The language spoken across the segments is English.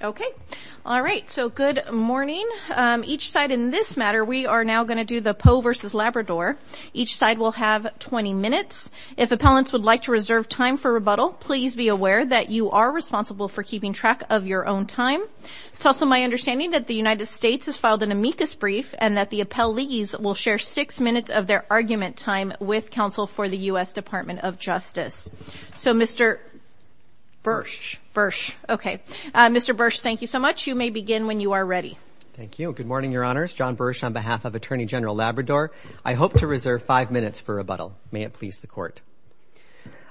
okay all right so good morning each side in this matter we are now going to do the Poe v. Labrador each side will have 20 minutes if appellants would like to reserve time for rebuttal please be aware that you are responsible for keeping track of your own time it's also my understanding that the United States has filed an amicus brief and that the appellees will share six minutes of their argument time with counsel for the US Department of Justice so mr. Bursch Bursch okay mr. Bursch thank you so much you may begin when you are ready thank you good morning your honors John Bursch on behalf of Attorney General Labrador I hope to reserve five minutes for rebuttal may it please the court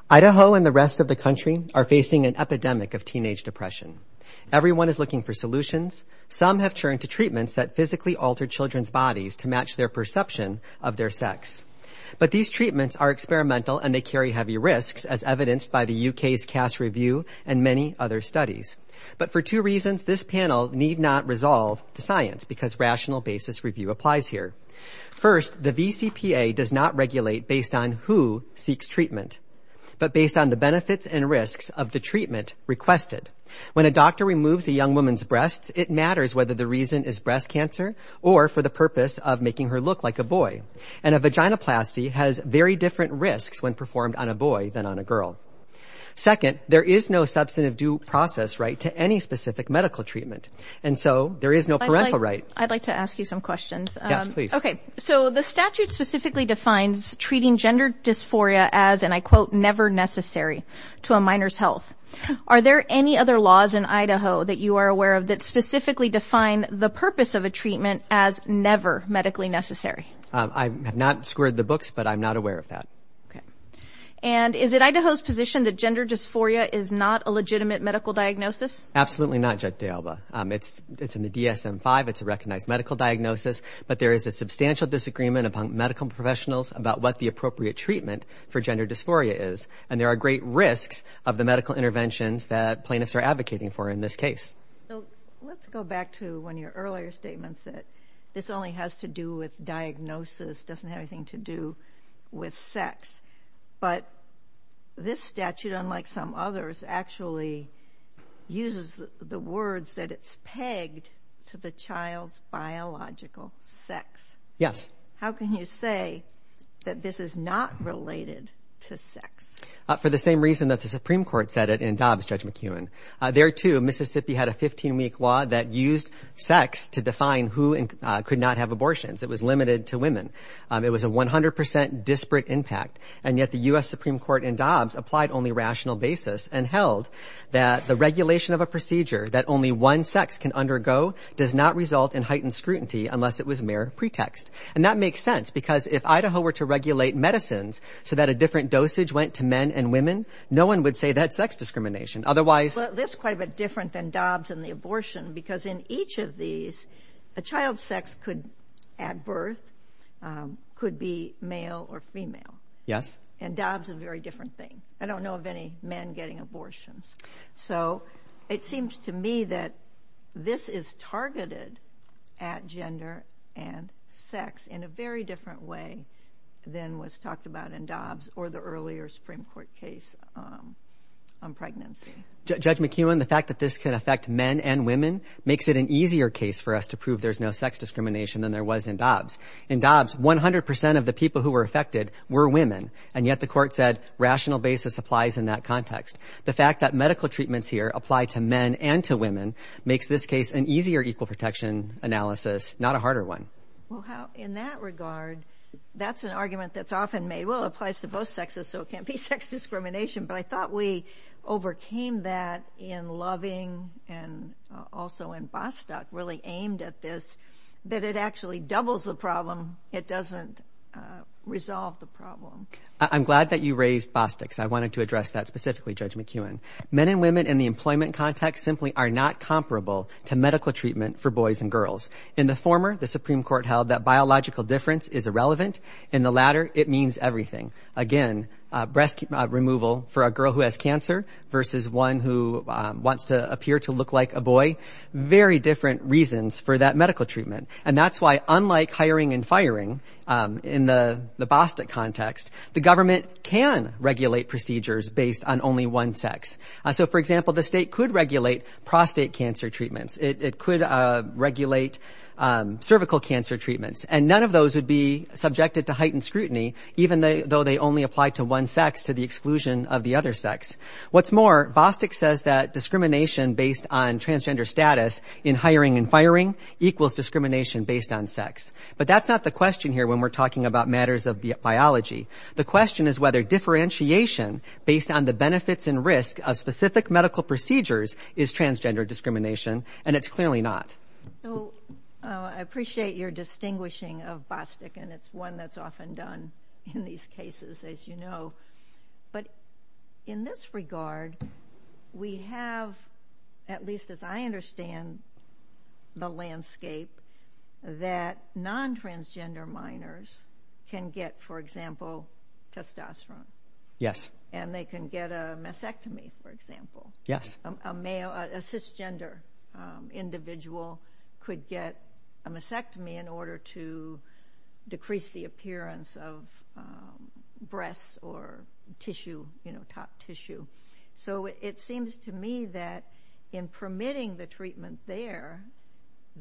Idaho and the rest of the country are facing an epidemic of teenage depression everyone is looking for solutions some have turned to treatments that physically altered children's bodies to match their perception of their sex but these treatments are experimental and they carry heavy risks as evidenced by the UK's Cass review and many other studies but for two reasons this panel need not resolve the science because rational basis review applies here first the VCPA does not regulate based on who seeks treatment but based on the benefits and risks of the treatment requested when a doctor removes a young woman's breasts it matters whether the reason is breast cancer or for the purpose of making her look like a boy and a vaginoplasty has very different risks when performed on a boy than on a girl second there is no substantive due process right to any specific medical treatment and so there is no parental right I'd like to ask you some questions okay so the statute specifically defines treating gender dysphoria as and I quote never necessary to a minor's health are there any other laws in Idaho that you are aware of that specifically define the purpose of a treatment as never medically necessary I have not squared the books but I'm not aware of that okay and is it Idaho's position that gender dysphoria is not a legitimate medical diagnosis absolutely not jet de Alba it's it's in the DSM 5 it's a recognized medical diagnosis but there is a substantial disagreement among medical professionals about what the appropriate treatment for gender dysphoria is and there are great risks of the medical interventions that plaintiffs are advocating for in this case let's go back to when your earlier statements that this only has to do with diagnosis doesn't have anything to do with sex but this statute unlike some others actually uses the words that it's pegged to the child's biological sex yes how can you say that this is not related to sex for the same reason that the Supreme Court said it in Dobbs Judge McEwen there too Mississippi had a 15 week law that used sex to define who and could not have abortions it was limited to women it was a 100% disparate impact and yet the US Supreme Court in Dobbs applied only rational basis and held that the regulation of a procedure that only one sex can undergo does not result in heightened scrutiny unless it was mere pretext and that makes sense because if Idaho were to regulate medicines so that a different dosage went to men and women no one would say that sex discrimination otherwise this quite a bit different than Dobbs and the could be male or female yes and Dobbs a very different thing I don't know of any men getting abortions so it seems to me that this is targeted at gender and sex in a very different way than was talked about in Dobbs or the earlier Supreme Court case on pregnancy Judge McEwen the fact that this can affect men and women makes it an easier case for us to prove there's no sex discrimination than there was in Dobbs. In Dobbs 100% of the people who were affected were women and yet the court said rational basis applies in that context the fact that medical treatments here apply to men and to women makes this case an easier equal protection analysis not a harder one. In that regard that's an argument that's often made well applies to both sexes so it can't be sex discrimination but I thought we overcame that in Loving and also in Bostock really aimed at this that it actually doubles the problem it doesn't resolve the problem. I'm glad that you raised Bostock's I wanted to address that specifically Judge McEwen men and women in the employment context simply are not comparable to medical treatment for boys and girls in the former the Supreme Court held that biological difference is irrelevant in the latter it means everything again breast removal for a girl who has cancer versus one who wants to appear to look like a boy very different reasons for that medical treatment and that's why unlike hiring and firing in the Bostock context the government can regulate procedures based on only one sex so for example the state could regulate prostate cancer treatments it could regulate cervical cancer treatments and none of those would be subjected to heightened scrutiny even though they only apply to one sex to the exclusion of the other sex. What's more Bostock says that discrimination based on transgender status in hiring and firing equals discrimination based on sex but that's not the question here when we're talking about matters of biology the question is whether differentiation based on the benefits and risk of specific medical procedures is transgender discrimination and it's clearly not. I appreciate your distinguishing of Bostock and it's one that's often done in these cases as you know but in this regard we have at least as I understand the landscape that non-transgender minors can get for example testosterone. Yes. And they can get a mastectomy for example. Yes. A male a cisgender individual could get a appearance of breasts or tissue you know top tissue so it seems to me that in permitting the treatment there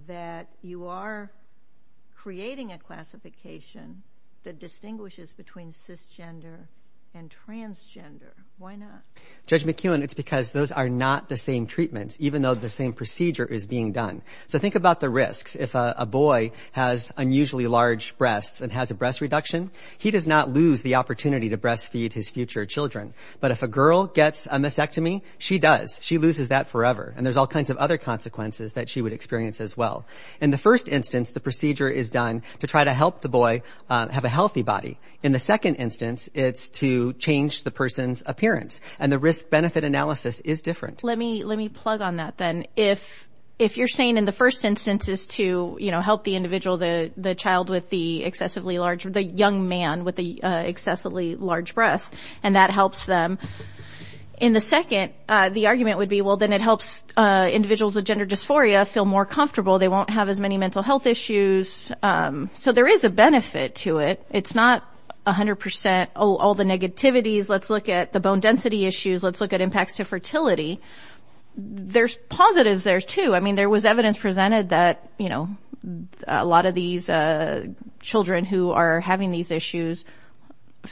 that you are creating a classification that distinguishes between cisgender and transgender. Why not? Judge McEwen it's because those are not the same treatments even though the same procedure is being done so think about the risks if a boy has unusually large breasts and has a breast reduction he does not lose the opportunity to breast feed his future children but if a girl gets a mastectomy she does she loses that forever and there's all kinds of other consequences that she would experience as well. In the first instance the procedure is done to try to help the boy have a healthy body. In the second instance it's to change the person's appearance and the risk-benefit analysis is different. Let me let me plug on that then if if you're saying in the first instance is to you know help the the child with the excessively large the young man with the excessively large breasts and that helps them in the second the argument would be well then it helps individuals with gender dysphoria feel more comfortable they won't have as many mental health issues so there is a benefit to it it's not a hundred percent all the negativities let's look at the bone density issues let's look at impacts to fertility there's positives there too I mean there was evidence presented that you know a lot of these children who are having these issues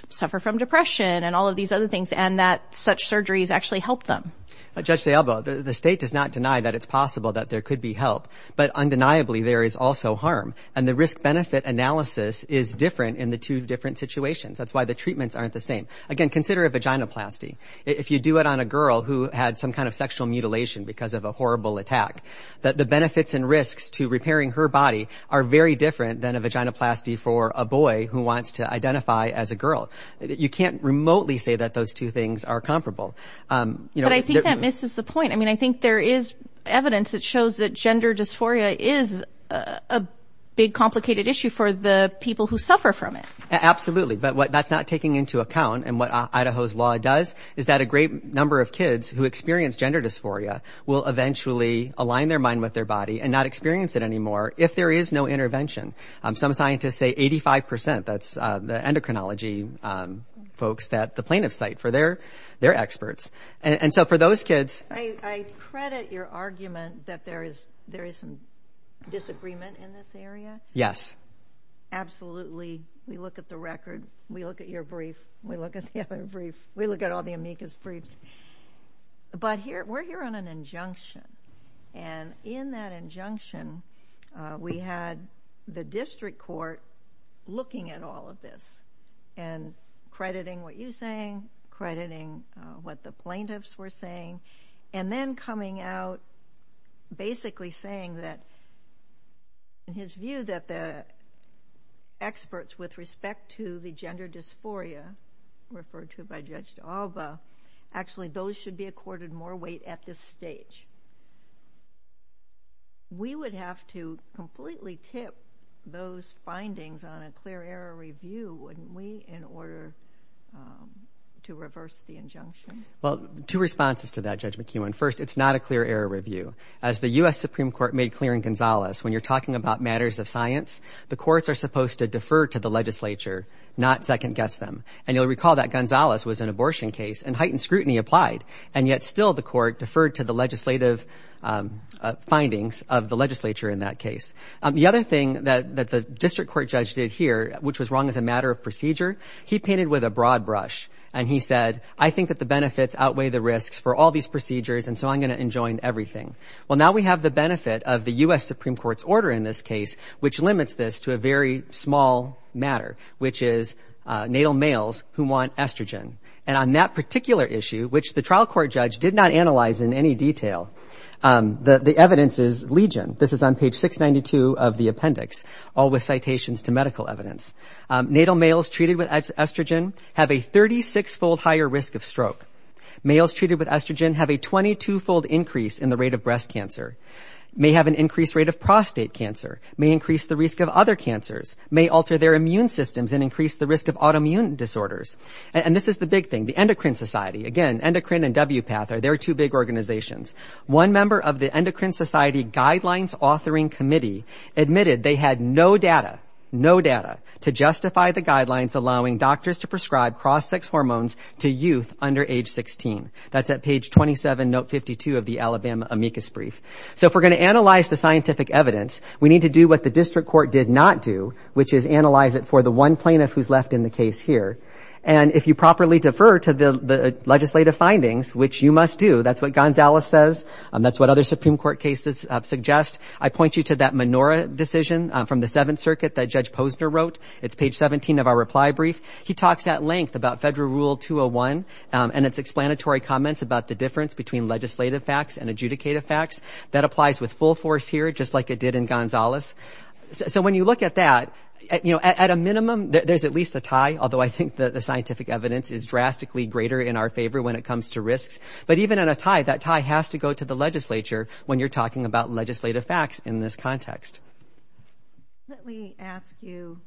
suffer from depression and all of these other things and that such surgeries actually help them. Judge DiAlbo the state does not deny that it's possible that there could be help but undeniably there is also harm and the risk-benefit analysis is different in the two different situations that's why the treatments aren't the same again consider a vaginoplasty if you do it on a girl who had some kind of sexual mutilation because of a horrible attack that the benefits and risks to repairing her body are very different than a vaginoplasty for a boy who wants to identify as a girl you can't remotely say that those two things are comparable. But I think that misses the point I mean I think there is evidence that shows that gender dysphoria is a big complicated issue for the people who suffer from it. Absolutely but what that's not taking into account and what Idaho's law does is that a great number of kids who experience gender dysphoria will eventually align their mind with their body and not experience it anymore if there is no intervention. Some scientists say 85% that's the endocrinology folks that the plaintiffs cite for their their experts and so for those kids. I credit your argument that there is there is some disagreement in this area. Yes. Absolutely we look at the record we look at your brief we look at the other brief we look at all the Mika's briefs but here we're here on an injunction and in that injunction we had the district court looking at all of this and crediting what you saying crediting what the plaintiffs were saying and then coming out basically saying that in his view that the experts with respect to the gender dysphoria referred to by Judge D'Alba actually those should be accorded more weight at this stage. We would have to completely tip those findings on a clear error review wouldn't we in order to reverse the injunction. Well two responses to that Judge McEwen first it's not a clear error review as the US Supreme Court made clear in Gonzales when you're talking about matters of science the courts are supposed to defer to the legislature not second-guess them and you'll recall that Gonzales was an abortion case and heightened scrutiny applied and yet still the court deferred to the legislative findings of the legislature in that case. The other thing that the district court judge did here which was wrong as a matter of procedure he painted with a broad brush and he said I think that the benefits outweigh the risks for all these procedures and so I'm going to enjoin everything. Well now we have the benefit of the US Supreme Court's order in this case which limits this to a very small matter which is natal males who want estrogen and on that particular issue which the trial court judge did not analyze in any detail the evidence is legion. This is on page 692 of the appendix all with citations to medical evidence. Natal males treated with estrogen have a 36-fold higher risk of stroke. Males treated with estrogen have a 22-fold increase in the rate of breast cancer, may have an increased rate of prostate cancer, may increase the risk of other cancers, may alter their immune systems and increase the risk of autoimmune disorders. And this is the big thing the endocrine society again endocrine and WPATH are their two big organizations. One member of the endocrine society guidelines authoring committee admitted they had no data, no data to justify the guidelines allowing doctors to prescribe cross-sex hormones to youth under age 16. That's at page 27 note 52 of the Alabama amicus brief. So if we're going to analyze the scientific evidence we need to do what the district court did not do which is analyze it for the one plaintiff who's left in the case here. And if you properly defer to the legislative findings which you must do that's what Gonzalez says and that's what other Supreme Court cases suggest. I point you to that menorah decision from the Seventh Circuit that Judge Posner wrote. It's page 17 of our reply brief. He talks at length about federal rule 201 and its explanatory comments about the difference between legislative facts and adjudicative facts. That applies with full force here just like it did in Gonzalez. So when you look at that you know at a minimum there's at least a tie although I think that the scientific evidence is drastically greater in our favor when it comes to risks. But even in a tie that tie has to go to the legislature when you're talking about legislative facts in this context. Let me ask you,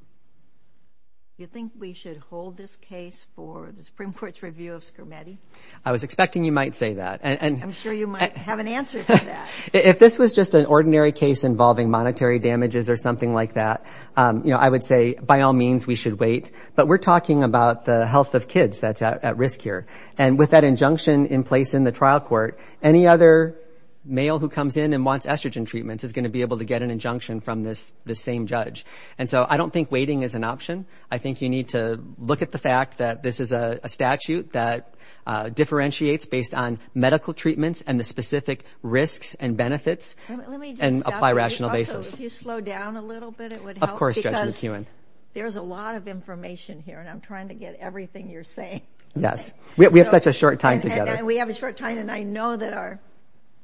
do you think we should hold this case for the Supreme Court's review of I was expecting you might say that. I'm sure you might have an answer. If this was just an ordinary case involving monetary damages or something like that you know I would say by all means we should wait but we're talking about the health of kids that's at risk here. And with that injunction in place in the trial court any other male who comes in and wants estrogen treatments is going to be able to get an injunction from this the same judge. And so I don't think waiting is an option. I think you need to look at the fact that this is a statute that differentiates based on medical treatments and the specific risks and benefits and apply rational basis. If you slow down a little bit it would help. Of course Judge McEwen. There's a lot of information here and I'm trying to get everything you're saying. Yes we have such a short time together. We have a short time and I know that our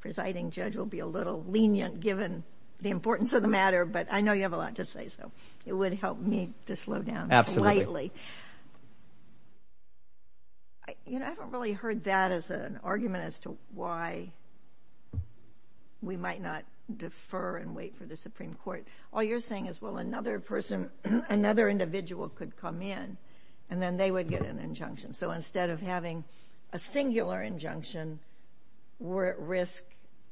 presiding judge will be a little lenient given the importance of the matter but I know you have a lot to say so it would help me to slow down slightly. You know I haven't really heard that as an argument as to why we might not defer and wait for the Supreme Court. All you're saying is well another person another individual could come in and then they would get an injunction. So instead of having a singular injunction we're at risk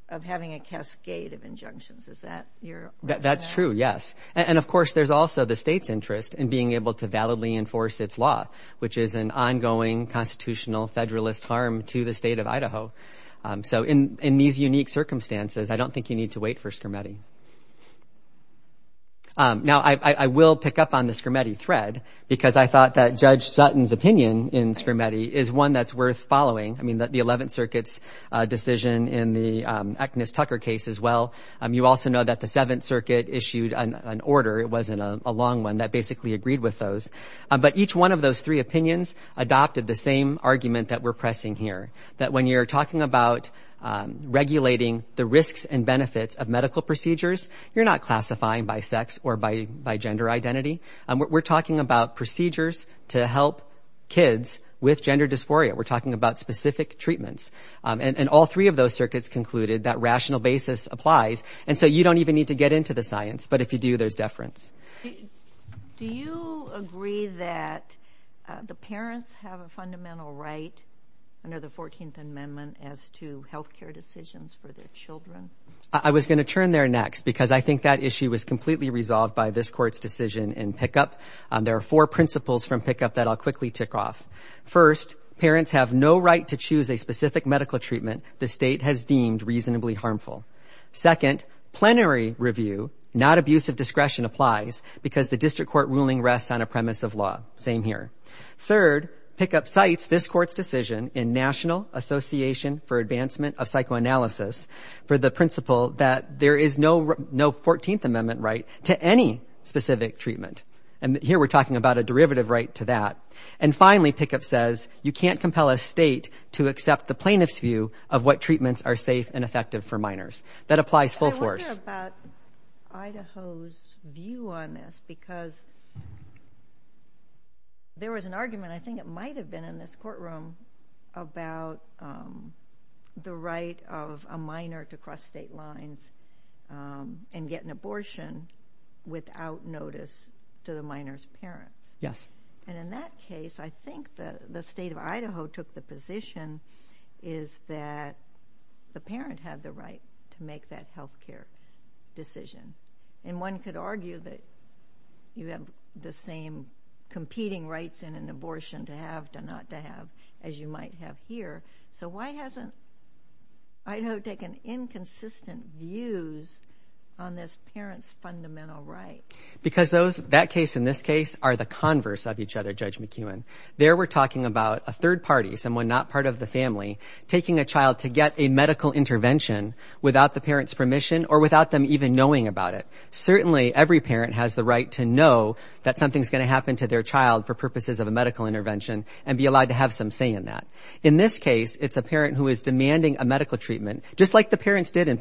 of having a cascade of injunctions. Is that your? That's true yes and of course there's also the state's interest in being able to validly enforce its law which is an ongoing constitutional federalist harm to the state of Idaho. So in in these unique circumstances I don't think you need to wait for Scarametti. Now I will pick up on the Scarametti thread because I thought that Judge Sutton's opinion in Scarametti is one that's worth following. I mean that the 11th Circuit's decision in the Agnes Tucker case as well. You also know that the 7th Circuit issued an order. It wasn't a long one that basically agreed with those but each one of those three opinions adopted the same argument that we're pressing here. That when you're talking about regulating the risks and benefits of medical procedures you're not classifying by sex or by by gender identity. We're talking about procedures to help kids with gender dysphoria. We're talking about specific treatments and all three of those circuits concluded that rational basis applies and so you don't even need to get into the science but if you do there's deference. Do you agree that the parents have a fundamental right under the 14th Amendment as to health care decisions for their children? I was going to turn there next because I think that issue was completely resolved by this court's decision in pickup. There are four principles from pickup that I'll quickly tick off. First, parents have no right to choose a specific medical treatment the state has deemed reasonably harmful. Second, plenary review not abusive discretion applies because the district court ruling rests on a premise of law. Same here. Third, pickup cites this court's decision in National Association for Advancement of Psychoanalysis for the principle that there is no no 14th Amendment right to any specific treatment and here we're talking about a derivative right to that. And finally, pickup says you can't compel a state to accept the plaintiff's view of what treatments are safe and effective for minors. That applies full force. I wonder about Idaho's view on this because there was an argument I think it might have been in this courtroom about the right of a minor to cross state lines and get an abortion without notice to the minor's parents. Yes. And in that case, I think that the state of Idaho took the position is that the parent had the right to make that health care decision and one could argue that you have the same competing rights in an abortion to have to not to have as you might have here. So why hasn't Idaho taken inconsistent views on this right? Because that case and this case are the converse of each other, Judge McEwen. There we're talking about a third party, someone not part of the family, taking a child to get a medical intervention without the parent's permission or without them even knowing about it. Certainly every parent has the right to know that something's going to happen to their child for purposes of a medical intervention and be allowed to have some say in that. In this case, it's a parent who is demanding a medical treatment just like the parents did in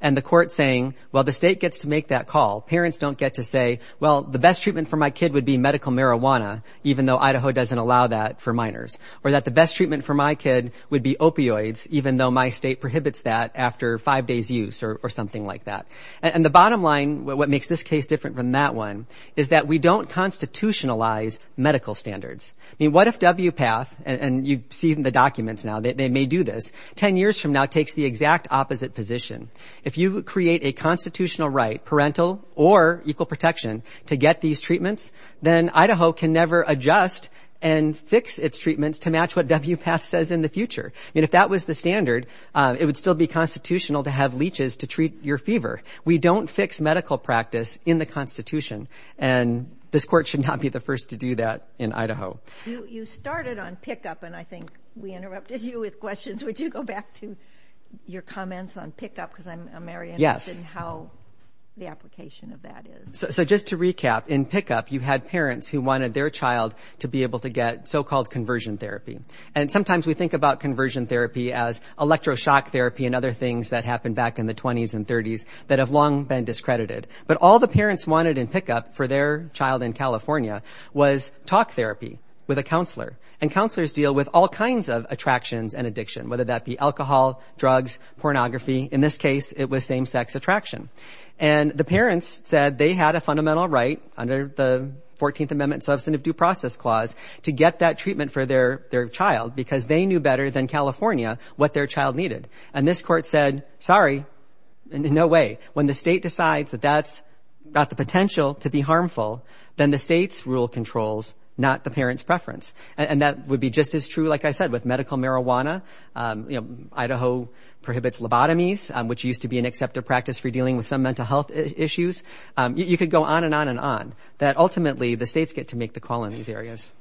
and the court saying, well, the state gets to make that call. Parents don't get to say, well, the best treatment for my kid would be medical marijuana, even though Idaho doesn't allow that for minors or that the best treatment for my kid would be opioids, even though my state prohibits that after five days use or something like that. And the bottom line, what makes this case different from that one is that we don't constitutionalize medical standards. I mean, what if WPATH and you see in the documents now that they may do this 10 years from now takes the exact opposite position. If you create a constitutional right, parental or equal protection to get these treatments, then Idaho can never adjust and fix its treatments to match what WPATH says in the future. And if that was the standard, it would still be constitutional to have leeches to treat your fever. We don't fix medical practice in the Constitution, and this court should not be the first to do that in Idaho. You started on pickup, and I think we interrupted you with questions. Would you go back to your comments on pickup because I'm very interested in how the application of that is. So just to recap, in pickup you had parents who wanted their child to be able to get so-called conversion therapy. And sometimes we think about conversion therapy as electroshock therapy and other things that happened back in the 20s and 30s that have long been discredited. But all the parents wanted in pickup for their child in California was talk therapy with a counselor. And counselors deal with all kinds of attractions and addiction, whether that be alcohol, drugs, pornography. In this case, it was same-sex attraction. And the parents said they had a fundamental right under the 14th Amendment Substantive Due Process Clause to get that treatment for their their child because they knew better than California what their child needed. And this court said, sorry, no way. When the state decides that that's got the potential to be harmful, then the state's rule controls, not the parents' preference. And that would be just as true, like I said, with medical marijuana. You know, Idaho prohibits lobotomies, which used to be an accepted practice for dealing with some mental health issues. You could go on and on and on. That ultimately the states get to make the call in these areas.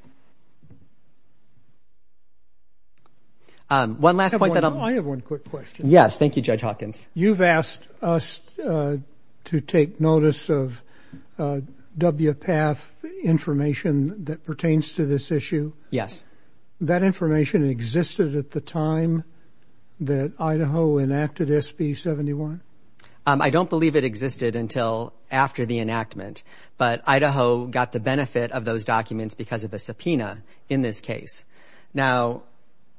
One last point that I'll... I have one quick question. Yes, thank you, Judge Hawkins. You've asked us to take Yes. That information existed at the time that Idaho enacted SB 71? I don't believe it existed until after the enactment, but Idaho got the benefit of those documents because of a subpoena in this case. Now,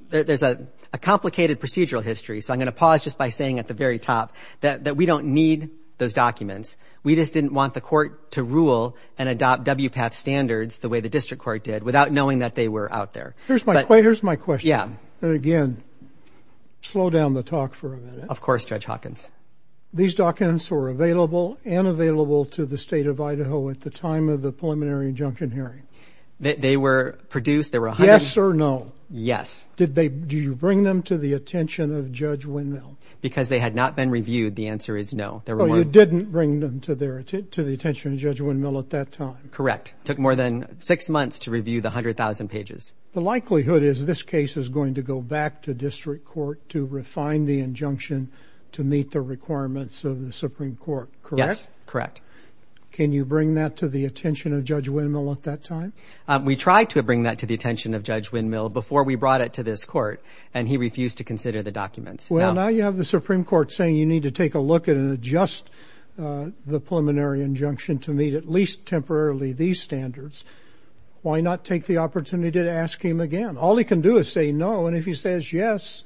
there's a complicated procedural history, so I'm going to pause just by saying at the very top that we don't need those documents. We just didn't want the court to rule and adopt WPATH standards the way the district court did without knowing that they were out there. Here's my question. Yeah. And again, slow down the talk for a minute. Of course, Judge Hawkins. These documents were available and available to the state of Idaho at the time of the preliminary injunction hearing? They were produced... Yes or no? Yes. Did you bring them to the attention of Judge Windmill? Because they had not been reviewed, the answer is no. Oh, you didn't bring them to the attention of Judge Windmill at that time? Correct. It took more than six months to review the hundred thousand pages. The likelihood is this case is going to go back to district court to refine the injunction to meet the requirements of the Supreme Court, correct? Yes, correct. Can you bring that to the attention of Judge Windmill at that time? We tried to bring that to the attention of Judge Windmill before we brought it to this court, and he refused to consider the documents. Well, now you have the Supreme Court saying you need to take a look at and adjust the preliminary injunction to meet at least temporarily these standards. Why not take the opportunity to ask him again? All he can do is say no, and if he says yes,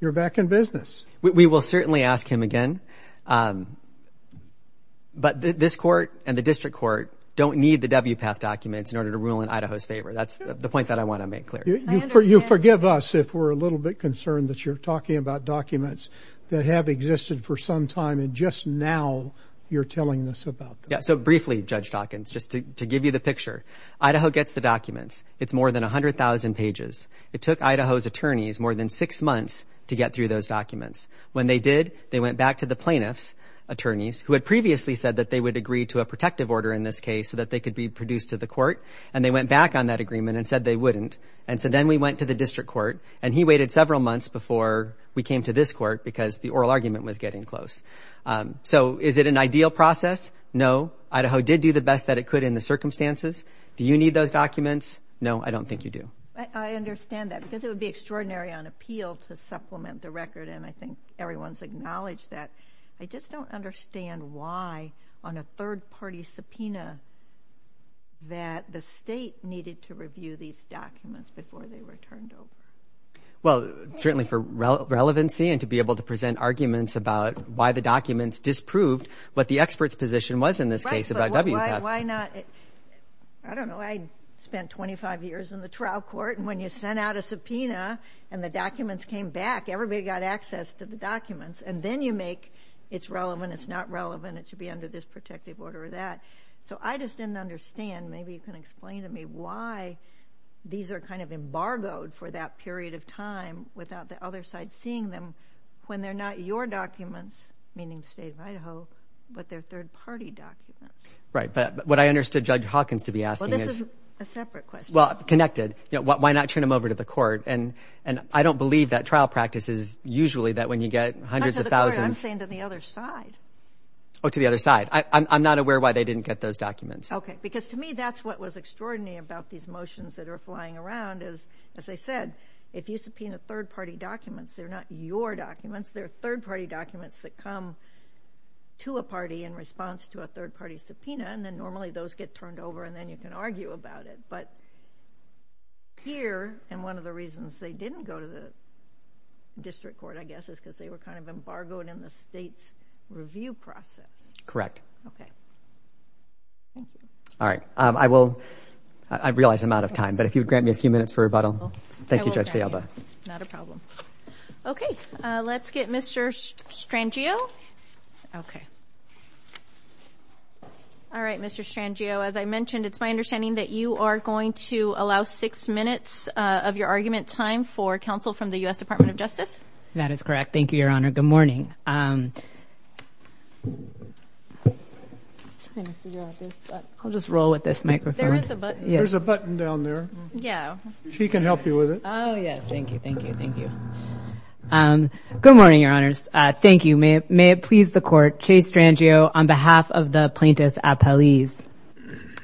you're back in business. We will certainly ask him again, but this court and the district court don't need the WPATH documents in order to rule in Idaho's favor. That's the point that I want to make clear. You forgive us if we're a little bit concerned that you're talking about documents that have existed for some time, and just now you're telling us about them. So briefly, Judge Dawkins, just to give you the picture, Idaho gets the documents. It's more than a hundred thousand pages. It took Idaho's attorneys more than six months to get through those documents. When they did, they went back to the plaintiffs' attorneys, who had previously said that they would agree to a protective order in this case so that they could be produced to the court, and they went back on that agreement and said they wouldn't. And so then we went to the district court, and he waited several months before we came to this court because the oral argument was getting close. So is it an ideal process? No. Idaho did do the best that it could in the circumstances. Do you need those documents? No, I don't think you do. I understand that because it would be extraordinary on appeal to supplement the record, and I think everyone's acknowledged that. I just don't understand why, on a third-party subpoena, that the state needed to review these documents before they were turned over. Well, certainly for relevancy and to be able to present arguments about why the documents disproved what the expert's position was in this case about WPAS. Why not? I don't know. I spent 25 years in the trial court, and when you sent out a subpoena and the documents came back, everybody got access to the documents, and then you make it's relevant, it's not relevant, it should be under this protective order or that. So I just didn't understand, maybe you can explain to me why these are kind of embargoed for that period of time without the other side seeing them when they're not your documents, meaning the state of Idaho, but they're third-party documents. Right, but what I understood Judge Hawkins to be asking is... Well, this is a separate question. Well, connected, you know, why not turn them over to the court? And I don't believe that trial practice is usually that when you get hundreds of thousands... Not to the court, I'm saying to the other side. Oh, to the other side. I'm not aware why they didn't get those documents. Okay, because to me that's what was extraordinary about these motions that are flying around is, as I said, if you subpoena third-party documents, they're not your documents, they're third-party documents that come to a party in response to a third-party subpoena, and then normally those get turned over and then you can argue about it. But here, and one of the reasons they didn't go to the district court, I guess, is because they were kind of embargoed in the state's review process. Correct. Okay. All right, I will... I realize I'm out of time, but if you grant me a few minutes for rebuttal. Thank you, Judge Fialba. Not a problem. Okay, let's get Mr. Strangio. Okay. All right, Mr. Strangio, as I mentioned, it's my understanding that you are going to allow six minutes of your argument time for counsel from the U.S. Department of Justice. That is correct. Thank you, Your Honor. Good morning. I'll just roll with this microphone. There's a button down there. Yeah. She can help you with it. Oh, yes. Thank you, thank you, thank you. Good morning, Your Honors. Thank you. May it please the Court, Chase Strangio, on behalf of the plaintiffs' appellees.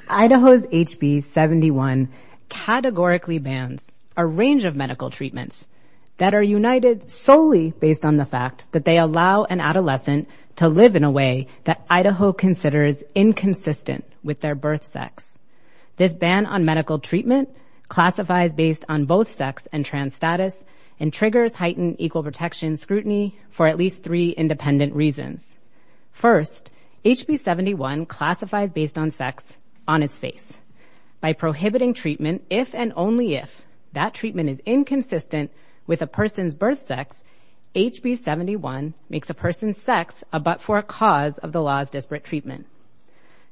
Idaho's HB 71 categorically bans a range of medical treatments that are united solely based on the fact that they allow an adolescent to live in a way that Idaho considers inconsistent with their birth sex. This ban on medical treatment classifies based on both sex and trans status and triggers heightened equal protection scrutiny for at least three independent reasons. First, HB 71 classifies based on sex on its face. By prohibiting treatment if and only if that treatment is inconsistent with a person's birth sex, HB 71 makes a person's sex a but for a cause of the treatment.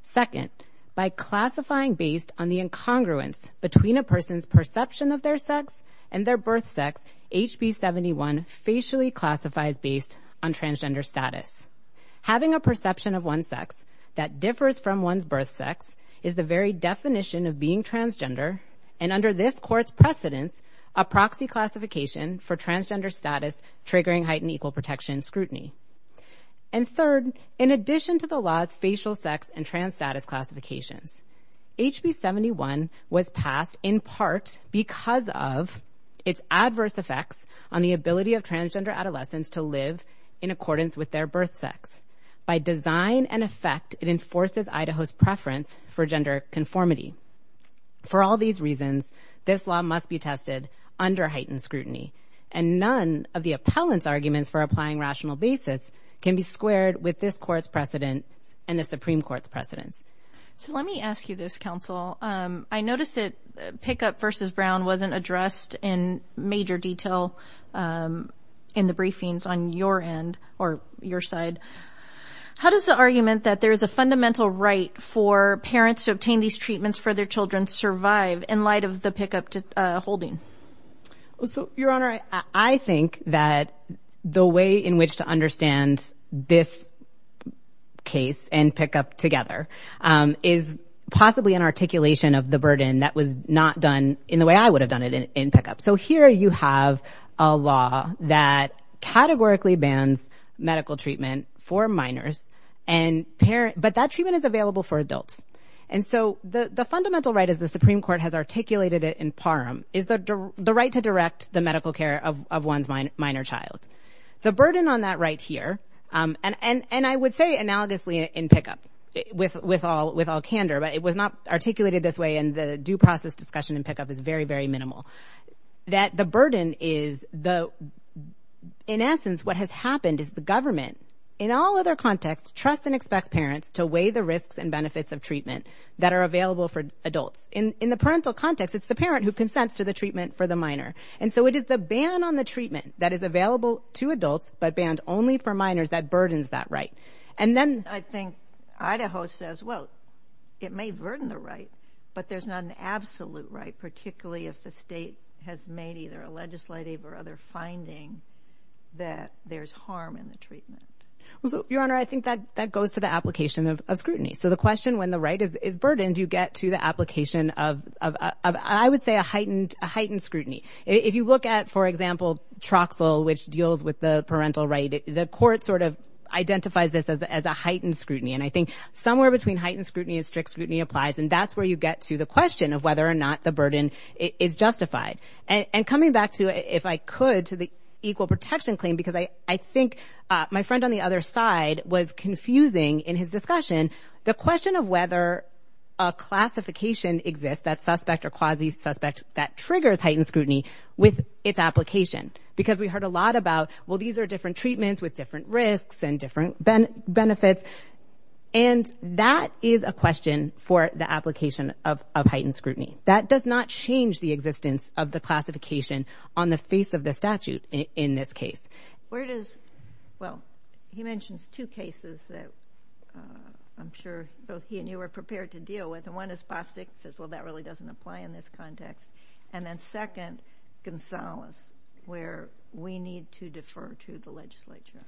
Second, by classifying based on the incongruence between a person's perception of their sex and their birth sex, HB 71 facially classifies based on transgender status. Having a perception of one's sex that differs from one's birth sex is the very definition of being transgender and, under this Court's precedence, a proxy classification for transgender status triggering heightened equal protection scrutiny. And third, in addition to the law's facial sex and trans status classifications, HB 71 was passed in part because of its adverse effects on the ability of transgender adolescents to live in accordance with their birth sex. By design and effect, it enforces Idaho's preference for gender conformity. For all these reasons, this law must be tested under heightened scrutiny, and none of the appellant's arguments for applying rational basis can be squared with this Court's precedence and the Supreme Court's precedence. So let me ask you this, counsel. I noticed that pickup versus Brown wasn't addressed in major detail in the briefings on your end or your side. How does the argument that there is a fundamental right for parents to obtain these treatments for their children survive in light of the pickup holding? So, Your Honor, I think that the way in which to understand this case and pickup together is possibly an articulation of the burden that was not done in the way I would have done it in pickup. So here you have a law that categorically bans medical treatment for minors and parents, but that treatment is available for adults. And so the the fundamental right is the Supreme Court has articulated it in Parham, is the right to direct the medical care of one's minor child. The burden on that right here, and I would say analogously in pickup, with all candor, but it was not articulated this way in the due process discussion in pickup, is very, very minimal. That the burden is the, in essence, what has happened is the government, in all other contexts, trusts and expects parents to weigh the risks and benefits of treatment that are available for adults. In the parental context, it's the parent who consents to the treatment for the minor. And so it is the ban on the treatment that is available to adults, but banned only for minors, that burdens that right. And then I think Idaho says, well, it may burden the right, but there's not an absolute right, particularly if the state has made either a legislative or other finding that there's harm in the treatment. Your Honor, I think that that goes to the application of scrutiny. So the question, when the right is burdened, you get to the application of, I would say, a heightened scrutiny. If you look at, for example, Troxel, which deals with the parental right, the court sort of identifies this as a heightened scrutiny. And I think somewhere between heightened scrutiny and strict scrutiny applies, and that's where you get to the question of whether or not the burden is justified. And coming back to, if I could, to the equal protection claim, because I think my friend on the other side was confusing in his discussion the question of whether a classification exists, that suspect or quasi-suspect, that triggers heightened scrutiny with its application. Because we heard a lot about, well, these are different treatments with different risks and different benefits. And that is a question for the application of heightened scrutiny. That does not change the existence of the classification on the face of the statute in this case. Where does, well, he mentions two cases that I'm sure both he and you are prepared to deal with. And one is Bostock, says, well, that really doesn't apply in this context. And then second, Gonzales, where we need to defer to the legislature.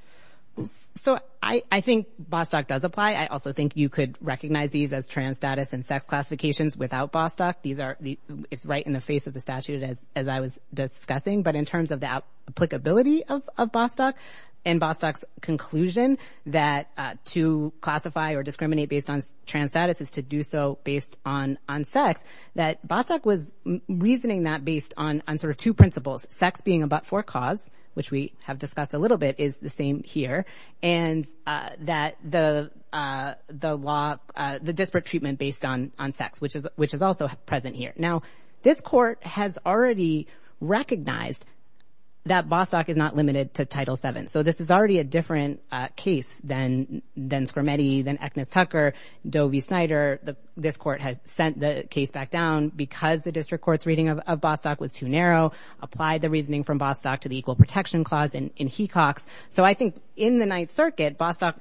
So I think Bostock does apply. I also think you could recognize these as trans status and sex classifications without Bostock. These are, it's right in the face of the statute as I was discussing. But in terms of the applicability of Bostock and Bostock's conclusion that to classify or discriminate based on trans status is to do so based on sex, that Bostock was reasoning that based on sort of two principles. Sex being a but-for cause, which we have discussed a little bit, is the same here. And that the law, the disparate treatment based on sex, which is also present here. Now, this court has already recognized that Bostock is not limited to Title VII. So this is already a different case than Scrimeti, than Eknas-Tucker, Doe v. Snyder. This court has sent the case back down because the district court's reading of Bostock was too narrow, applied the reasoning from Bostock to the Equal Protection Clause in Hecox. So I think in the Ninth Circuit, Bostock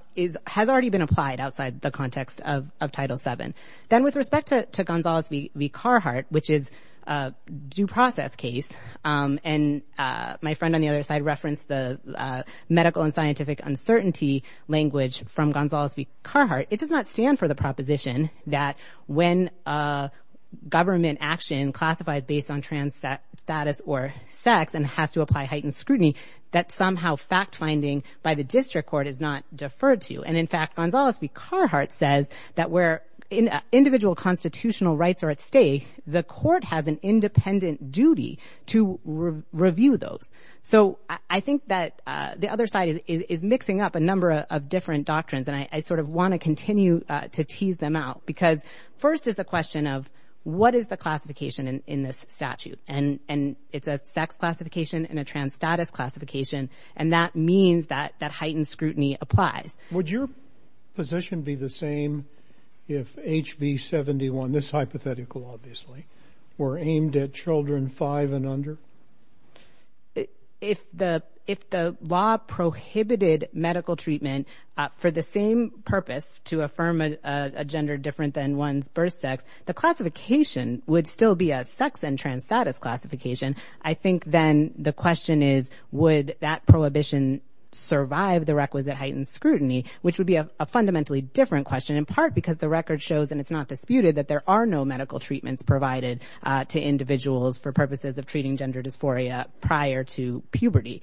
has already been applied outside the context of Title VII. Then with respect to Gonzales v. Carhart, which is a due process case, and my friend on the other side referenced the medical and scientific uncertainty language from Gonzales v. Carhart, it does not stand for the proposition that when a government action classifies based on trans status or sex and has to apply heightened scrutiny, that somehow fact finding by the district court is not deferred to. And in fact, Gonzales v. Carhart says that where individual constitutional rights are at stake, the court has an independent duty to review those. So I think that the other side is mixing up a number of different doctrines, and I sort of want to continue to tease them out. Because first is the question of what is the classification in this statute? And it's a sex classification and a trans status classification. And that means that that heightened scrutiny applies. Would your position be the same if HB 71, this hypothetical obviously, were aimed at children five and under? If the if the law prohibited medical treatment for the same purpose to affirm a gender different than one's birth sex, the classification would still be a sex and trans status classification. I think then the question is, would that prohibition survive the requisite heightened scrutiny, which would be a fundamentally different question, in part because the record shows, and it's not disputed, that there are no medical treatments provided to individuals for purposes of treating gender dysphoria prior to puberty.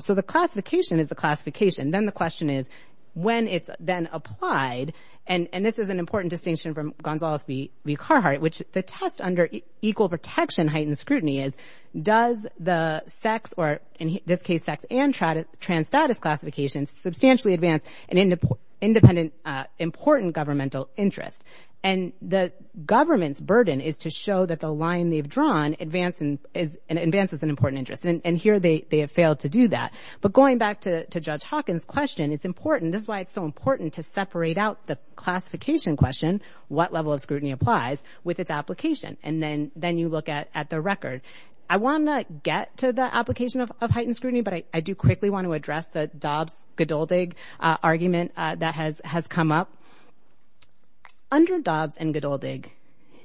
So the classification is the classification. Then the question is, when it's then applied, and this is an important distinction from Gonzales v. Carhart, which the test under equal protection heightened scrutiny is, does the sex, or in this case, sex and trans status classifications, substantially advance an independent, important governmental interest? And the government's burden is to show that the line they've drawn advances an important interest. And here they have failed to do that. But going back to Judge Hawkins' question, it's important, this is why it's so important to separate out the classification question, what level of scrutiny applies with its application, and then then you look at at the record. I want to get to the application of heightened scrutiny, but I do quickly want to address the Dobbs-Gedoldig argument that has has come up. Under Dobbs and Gedoldig,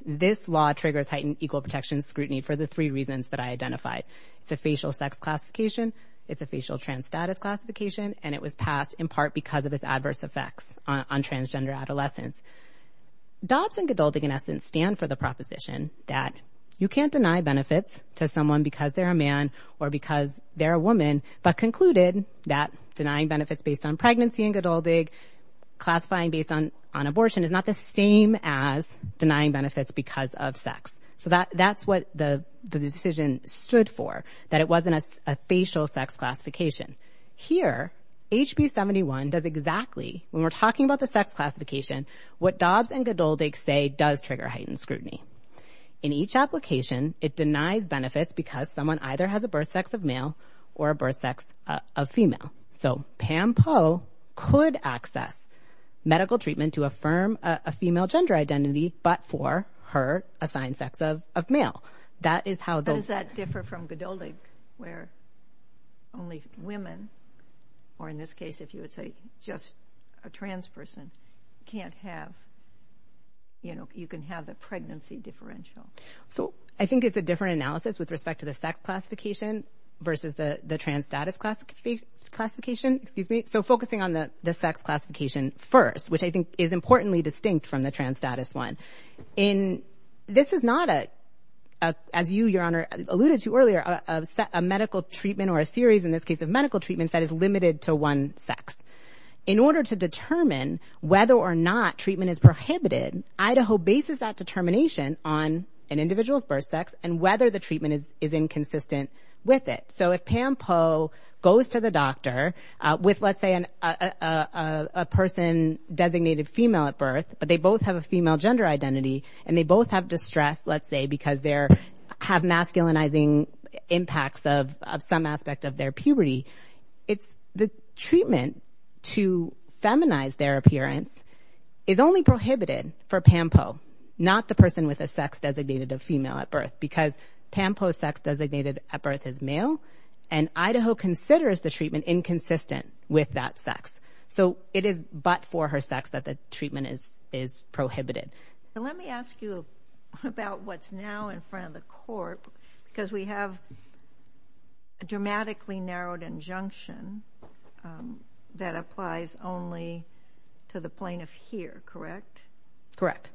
this law triggers heightened equal protection scrutiny for the three reasons that I identified. It's a facial sex classification, it's a facial trans status classification, and it was passed in part because of its adverse effects on transgender adolescents. Dobbs and Gedoldig, in essence, stand for the proposition that you can't deny benefits to someone because they're a man or because they're a woman, but concluded that denying benefits based on pregnancy and Gedoldig, classifying based on on abortion is not the same as denying benefits because of sex. So that that's what the decision stood for, that it wasn't a facial sex classification. Here, HB 71 does exactly, when we're talking about the sex classification, what Dobbs and Gedoldig say does trigger heightened scrutiny. In each application, it denies benefits because someone either has a birth sex of male or a birth sex of female. So Pam Poe could access medical treatment to affirm a female gender identity, but for her assigned sex of male. That is how... How does that differ from Gedoldig, where only women, or in this case, if you would say just a trans person, can't have, you know, you can have the pregnancy differential? So I think it's a different analysis with respect to the sex classification versus the trans status classification, excuse me. So focusing on the sex classification first, which I think is importantly distinct from the status one. In... This is not a, as you, your honor, alluded to earlier, a medical treatment or a series, in this case of medical treatments, that is limited to one sex. In order to determine whether or not treatment is prohibited, Idaho bases that determination on an individual's birth sex and whether the treatment is inconsistent with it. So if Pam Poe goes to the doctor with, let's say, a person designated female at birth, but they both have a female gender identity, and they both have distress, let's say, because they have masculinizing impacts of some aspect of their puberty, it's the treatment to feminize their appearance is only prohibited for Pam Poe, not the person with a sex designated of female at birth, because Pam Poe's sex designated at birth is male, and Idaho considers the inconsistent with that sex. So it is but for her sex that the treatment is prohibited. Let me ask you about what's now in front of the court, because we have a dramatically narrowed injunction that applies only to the plaintiff here, correct? Correct.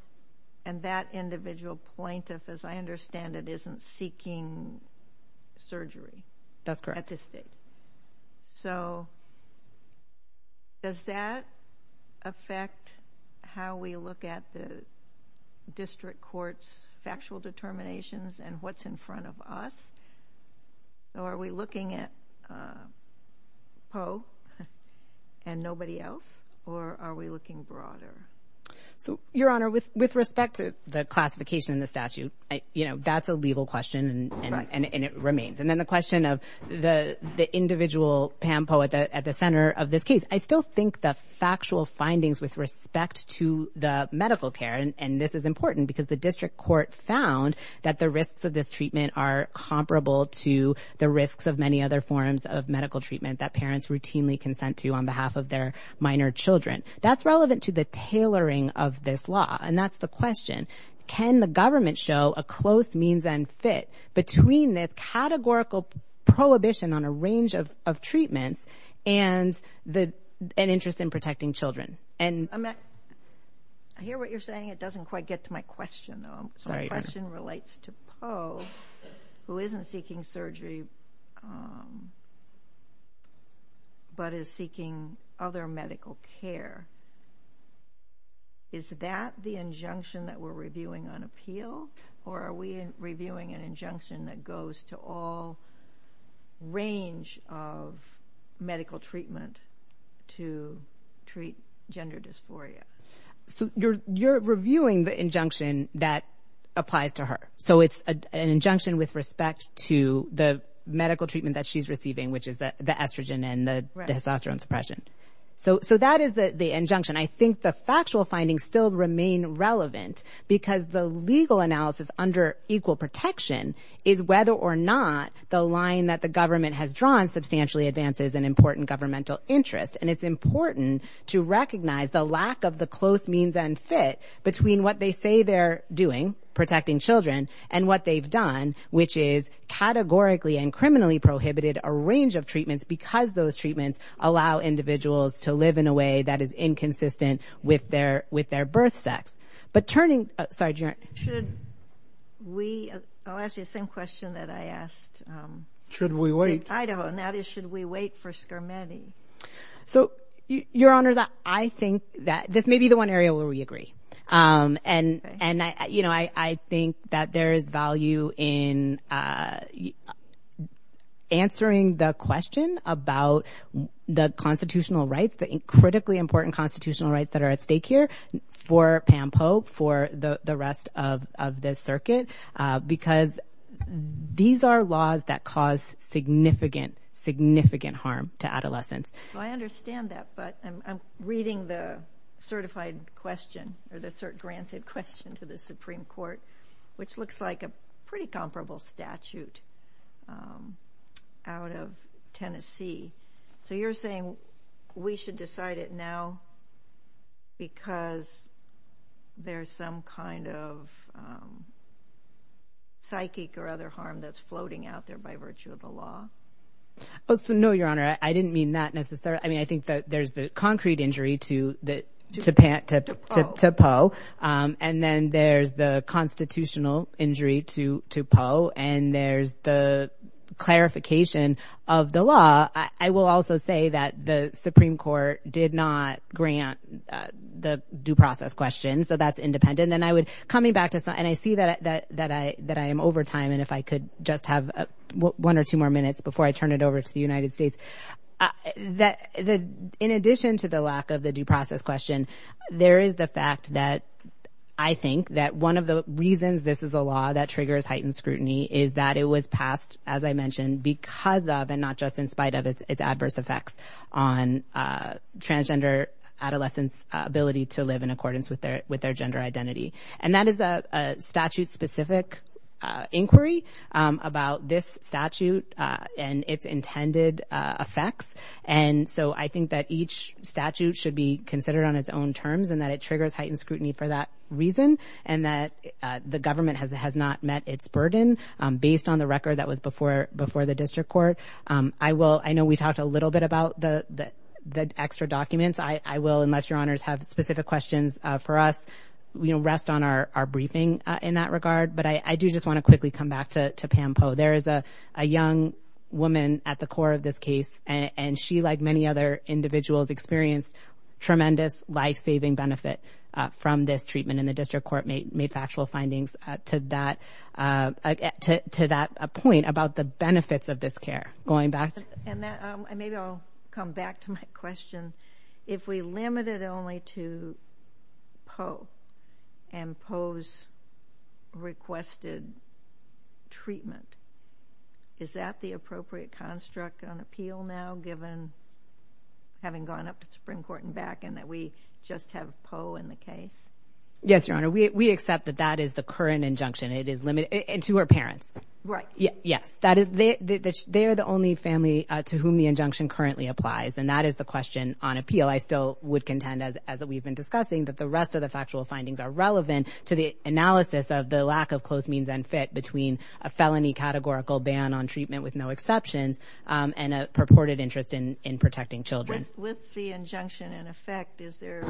And that individual plaintiff, as I understand it, isn't seeking surgery. That's correct. At this date. So does that affect how we look at the district court's factual determinations and what's in front of us, or are we looking at Poe and nobody else, or are we looking broader? So, Your Honor, with with respect to the classification in the statute, you know, that's a legal question and it remains. And then the question of the individual Pam Poe at the center of this case, I still think the factual findings with respect to the medical care, and this is important because the district court found that the risks of this treatment are comparable to the risks of many other forms of medical treatment that parents routinely consent to on behalf of their minor children. That's relevant to the tailoring of this law, and that's the question, can the government show a close means and fit between this categorical prohibition on a range of treatments and an interest in protecting children? I hear what you're saying, it doesn't quite get to my question, though. My question relates to Poe, who isn't seeking surgery, but is seeking other medical care. Is that the injunction that we're reviewing on appeal, or are we reviewing an injunction that goes to all range of medical treatment to treat gender dysphoria? So, you're reviewing the injunction that applies to her. So, it's an injunction with respect to the medical treatment that she's present. So, that is the injunction. I think the factual findings still remain relevant because the legal analysis under equal protection is whether or not the line that the government has drawn substantially advances an important governmental interest, and it's important to recognize the lack of the close means and fit between what they say they're doing, protecting children, and what they've done, which is categorically and criminally prohibited a range of treatments because those treatments allow individuals to live in a way that is inconsistent with their birth sex. But turning... I'll ask you the same question that I asked in Idaho, and that is, should we wait for Skirmeti? So, Your Honors, I think that this may be the one area where we agree, and, you know, I think that there is value in answering the question about the constitutional rights, the critically important constitutional rights that are at stake here for PAMPO, for the rest of this circuit, because these are laws that cause significant, significant harm to adolescents. I understand that, but I'm reading the certified question, or the cert-granted question to the Supreme Court, which looks like a pretty comparable statute out of Tennessee. So you're saying we should decide it now because there's some kind of psychic or other harm that's floating out there by virtue of the law? Oh, so no, Your Honor, I didn't mean that necessarily. I mean, I think that there's the concrete injury to POE, and then there's the constitutional injury to POE, and there's the clarification of the law. I will also say that the Supreme Court did not grant the due process question, so that's independent. And I would, coming back to something, and I see that I am over time, and if I could just have one or two more minutes before I turn it over to the United States. In addition to the lack of the due process question, there is the fact that I think that one of the reasons this is a law that triggers heightened scrutiny is that it was passed, as I mentioned, because of, and not just in spite of, its adverse effects on transgender adolescents' ability to live in accordance with their gender identity. And that is a statute-specific inquiry about this statute and its intended effects. And so I think that each statute should be considered on its own terms and that it triggers heightened scrutiny for that reason, and that the government has not met its burden based on the record that was before the district court. I know we talked a little bit about the extra documents. I will, unless I'm wrong, request on our briefing in that regard. But I do just want to quickly come back to Pam Poe. There is a young woman at the core of this case, and she, like many other individuals, experienced tremendous life-saving benefit from this treatment. And the district court made factual findings to that point about the benefits of this care. Going back to... And maybe I'll come back to my question. If we limit it only to Poe and Poe's requested treatment, is that the appropriate construct on appeal now, given, having gone up to the Supreme Court and back, and that we just have Poe in the case? Yes, Your Honor. We accept that that is the current injunction. It is limited, and to her parents. Right. Yes. They are the only family to whom the injunction currently applies, and that is the question on appeal. I still would contend, as we've been discussing, that the rest of the factual findings are relevant to the analysis of the lack of close means and fit between a felony categorical ban on treatment with no exceptions and a purported interest in protecting children. With the injunction in effect, is there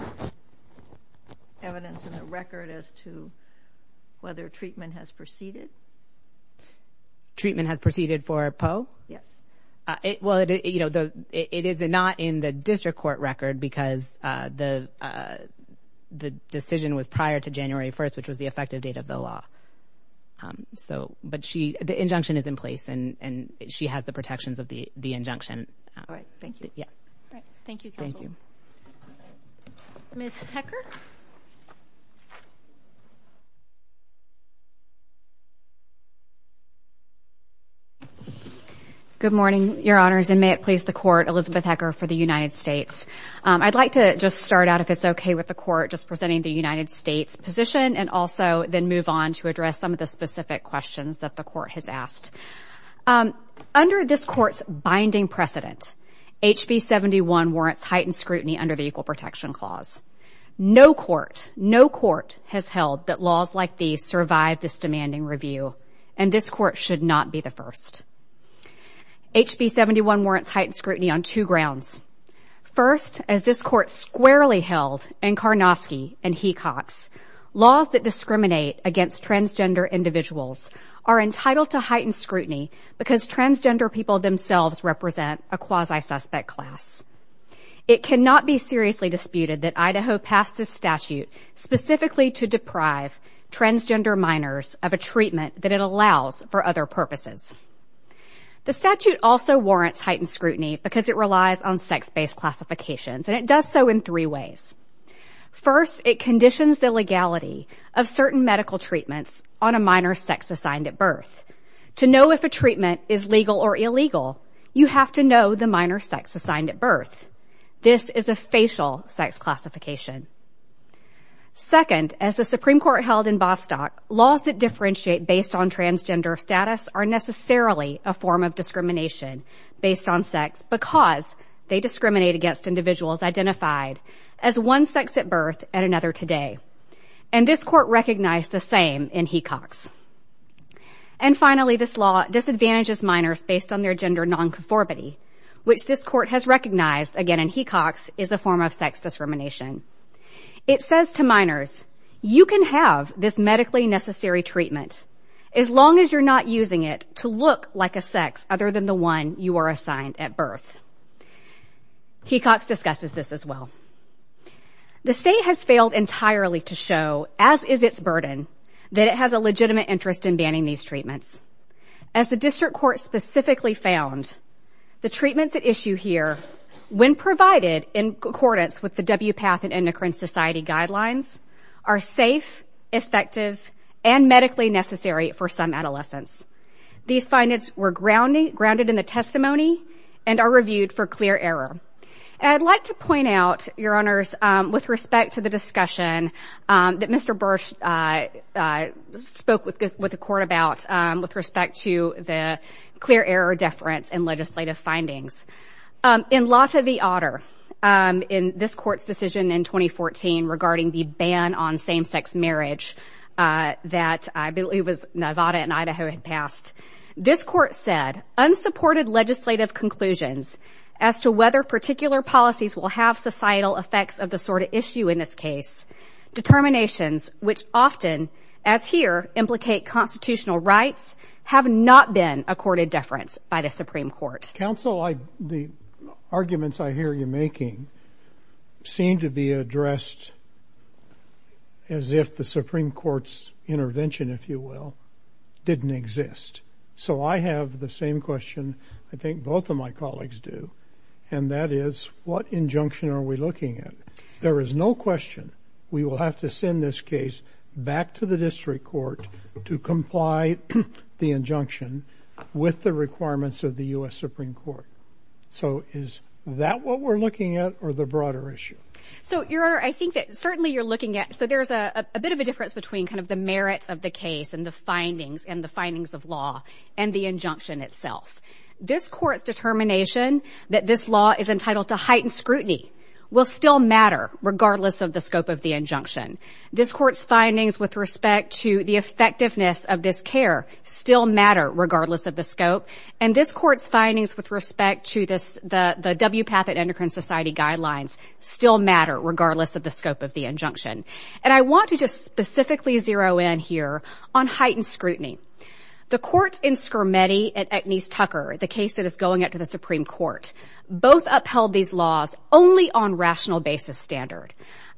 evidence in the record as to whether treatment has proceeded? Treatment has proceeded for Poe? Yes. Well, it is not in the district court record, because the decision was prior to January 1st, which was the effective date of the law. But the injunction is in place, and she has the protections of the injunction. All right. Thank you. Ms. Hecker? Good morning, Your Honors, and may it please the Court, Elizabeth Hecker for the United States. I'd like to just start out, if it's okay with the Court, just presenting the United States position, and also then move on to address some of the specific questions that the Court has asked. Under this Court's binding precedent, HB 71 warrants heightened scrutiny under the Equal Protection Clause. No court, no court, has held that laws like these survive this demanding review, and this Court should not be the first. HB 71 warrants heightened scrutiny on two grounds. First, as this Court squarely held in Karnofsky and Hecox, laws that discriminate against transgender individuals are entitled to heightened scrutiny because transgender people themselves represent a quasi-suspect class. It cannot be seriously disputed that Idaho passed this statute specifically to deprive transgender minors of a treatment that it allows for other purposes. The statute also warrants heightened scrutiny because it relies on sex-based classifications, and it does so in three ways. First, it conditions the legality of certain medical treatments on a minor sex assigned at birth. To know if a you have to know the minor sex assigned at birth. This is a facial sex classification. Second, as the Supreme Court held in Bostock, laws that differentiate based on transgender status are necessarily a form of discrimination based on sex because they discriminate against individuals identified as one sex at birth and another today, and this Court recognized the same in Hecox. And finally, this law disadvantages minors based on their gender nonconformity, which this Court has recognized, again in Hecox, is a form of sex discrimination. It says to minors, you can have this medically necessary treatment as long as you're not using it to look like a sex other than the one you are assigned at birth. Hecox discusses this as well. The state has failed entirely to show, as is its burden, that it has a legitimate interest in banning these treatments. As the District Court specifically found, the treatments at issue here, when provided in accordance with the WPATH and Endocrine Society guidelines, are safe, effective, and medically necessary for some adolescents. These findings were grounded in the testimony and are reviewed for clear error. I'd like to point out, Your Honors, with respect to the discussion that Mr. Bursch spoke with the Court about, with respect to the clear error deference in legislative findings, in Lotta v. Otter, in this Court's decision in 2014 regarding the ban on same-sex marriage that I believe was Nevada and Idaho had passed, this Court said, unsupported legislative conclusions as to whether particular policies will have effects of the sort of issue in this case. Determinations, which often, as here, implicate constitutional rights, have not been accorded deference by the Supreme Court. Counsel, the arguments I hear you making seem to be addressed as if the Supreme Court's intervention, if you will, didn't exist. So I have the same question I think both of my colleagues do, and that is, what injunction are we looking at? There is no question we will have to send this case back to the District Court to comply the injunction with the requirements of the US Supreme Court. So is that what we're looking at or the broader issue? So, Your Honor, I think that certainly you're looking at, so there's a bit of a difference between kind of the merits of the case and the findings and the findings of law and the injunction itself. This Court's determination that this law is entitled to heightened scrutiny will still matter regardless of the scope of the injunction. This Court's findings with respect to the effectiveness of this care still matter regardless of the scope, and this Court's findings with respect to the WPATH and Endocrine Society guidelines still matter regardless of the scope of the injunction. And I want to just specifically zero in here on heightened scrutiny. The courts in Scarametti and Agnese Tucker, the case that is going up to the Supreme Court, both upheld these laws only on rational basis standard.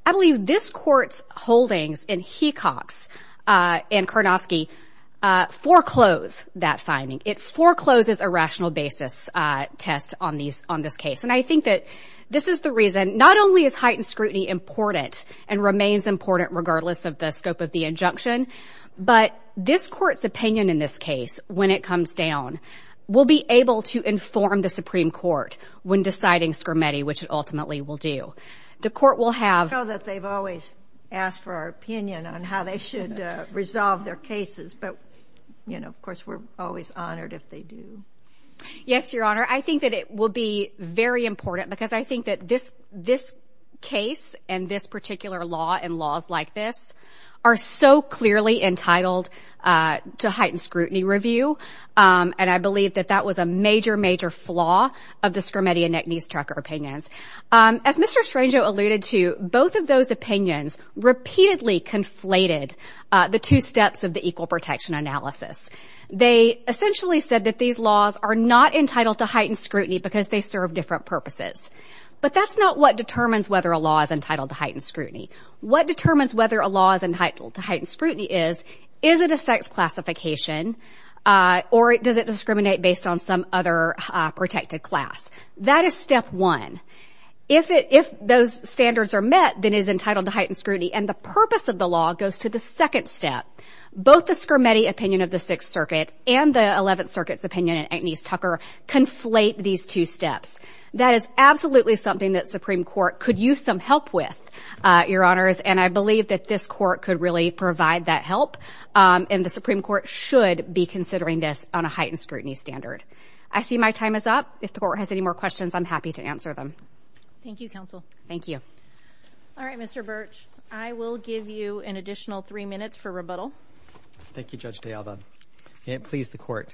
I believe this Court's holdings in Hecox and Karnosky foreclose that finding. It forecloses a rational basis test on this case, and I think that this is the reason not only is heightened of the injunction, but this Court's opinion in this case, when it comes down, will be able to inform the Supreme Court when deciding Scarametti, which it ultimately will do. The Court will have... I know that they've always asked for our opinion on how they should resolve their cases, but, you know, of course we're always honored if they do. Yes, Your Honor, I think that it will be very important because I think that this case and this particular law and laws like this are so clearly entitled to heightened scrutiny review, and I believe that that was a major, major flaw of the Scarametti and Agnese Tucker opinions. As Mr. Strangio alluded to, both of those opinions repeatedly conflated the two steps of the equal protection analysis. They essentially said that these laws are not entitled to heightened scrutiny because they serve different purposes. But that's not what determines whether a law is entitled to heightened scrutiny. What determines whether a law is entitled to heightened scrutiny is, is it a sex classification or does it discriminate based on some other protected class? That is step one. If those standards are met, then it is entitled to heightened scrutiny, and the purpose of the law goes to the second step. Both the Scarametti opinion of the Sixth Circuit and the Eleventh Circuit's opinion in Agnese Tucker conflate these two steps. That is absolutely something that Supreme Court could use some help with, Your Honors, and I believe that this court could really provide that help, and the Supreme Court should be considering this on a heightened scrutiny standard. I see my time is up. If the Court has any more questions, I'm happy to answer them. Thank you, Counsel. Thank you. All right, Mr. Birch, I will give you an additional three minutes for rebuttal. Thank you, Judge DeAlba. It pleased the Court.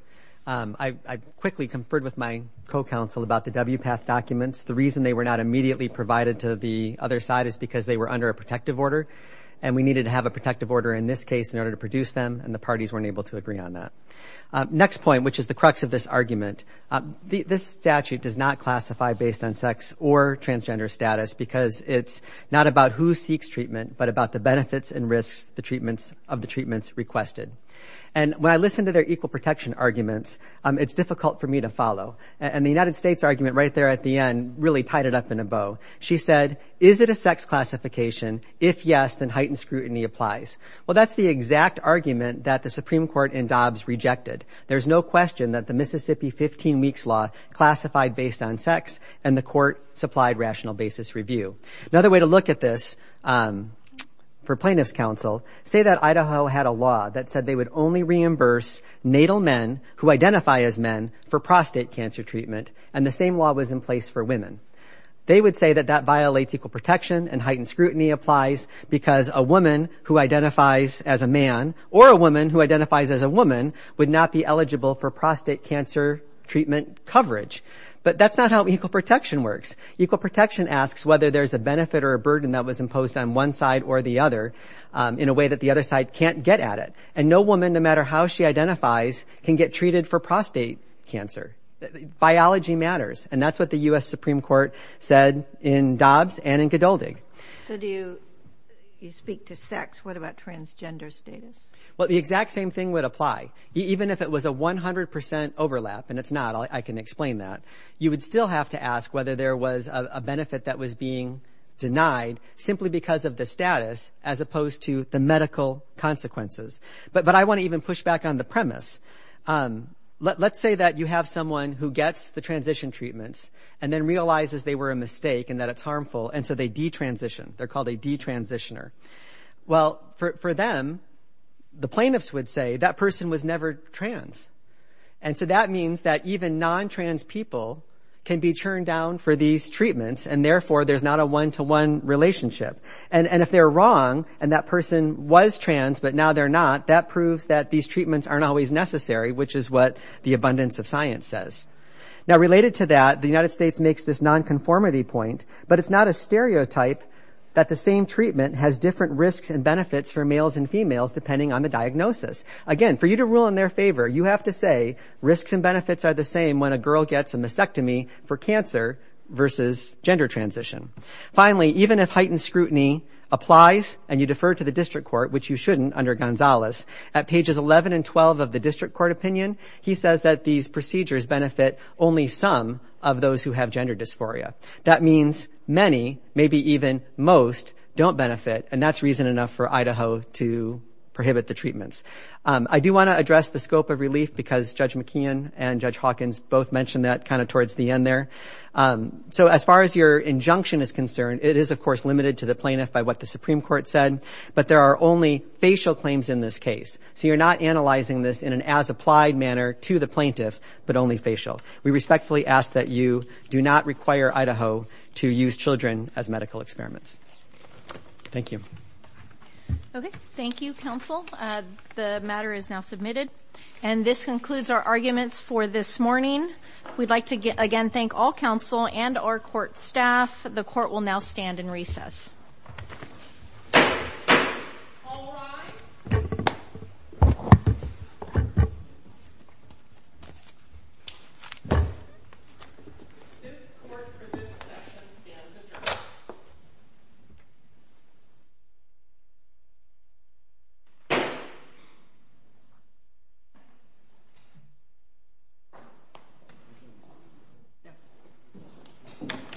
I quickly conferred with my co-counsel about the WPATH documents. The reason they were not immediately provided to the other side is because they were under a protective order, and we needed to have a protective order in this case in order to produce them, and the parties weren't able to agree on that. Next point, which is the crux of this argument, this statute does not classify based on sex or transgender status because it's not about who seeks treatment, but about the benefits and risks of the treatments requested, and when I listen to their equal protection arguments, it's difficult for me to follow, and the United States' argument right there at the end really tied it up in a bow. She said, is it a sex classification? If yes, then heightened scrutiny applies. Well, that's the exact argument that the Supreme Court in Dobbs rejected. There's no question that the Mississippi 15 weeks law classified based on sex, and the Court supplied rational basis review. Another way to look at this for plaintiff's counsel, say that Idaho had a that said they would only reimburse natal men who identify as men for prostate cancer treatment, and the same law was in place for women. They would say that that violates equal protection, and heightened scrutiny applies because a woman who identifies as a man or a woman who identifies as a woman would not be eligible for prostate cancer treatment coverage, but that's not how equal protection works. Equal protection asks whether there's a benefit or a burden that was imposed on one side or the other in a way that the other side can't get at it, and no woman, no matter how she identifies, can get treated for prostate cancer. Biology matters, and that's what the U.S. Supreme Court said in Dobbs and in Godeldy. So do you speak to sex? What about transgender status? Well, the exact same thing would apply. Even if it was a 100% overlap, and it's not, I can explain that, you would still have to ask whether there was a benefit that was being denied simply because of the status as opposed to the medical consequences. But I want to even push back on the premise. Let's say that you have someone who gets the transition treatments and then realizes they were a mistake and that it's harmful, and so they detransition. They're called a detransitioner. Well, for them, the plaintiffs would say that person was never trans, and so that means that even non-trans people can be churned down for these treatments, and therefore there's not a one-to-one relationship. And if they're wrong and that person was trans but now they're not, that proves that these treatments aren't always necessary, which is what the abundance of science says. Now, related to that, the United States makes this non-conformity point, but it's not a stereotype that the same treatment has different risks and benefits for males and females depending on the diagnosis. Again, for you to rule in their favor, you have to say risks and benefits are the same when a girl gets a mastectomy for cancer versus gender transition. Finally, even if heightened scrutiny applies and you defer to the district court, which you shouldn't under Gonzales, at pages 11 and 12 of the district court opinion, he says that these procedures benefit only some of those who have gender dysphoria. That means many, maybe even most, don't benefit, and that's reason enough for Idaho to prohibit the treatments. I do want to address the scope of relief because Judge McKeon and Judge Hawkins both mentioned that kind of towards the end there. So as far as your injunction is concerned, it is, of course, limited to the plaintiff by what the Supreme Court said, but there are only facial claims in this case. So you're not analyzing this in an as-applied manner to the plaintiff, but only facial. We respectfully ask that you do not require Idaho to use children as medical experiments. Thank you. Okay, thank you, counsel. The matter is now submitted, and this concludes our arguments for this morning. We'd like to again thank all counsel and our court staff. The court will now stand in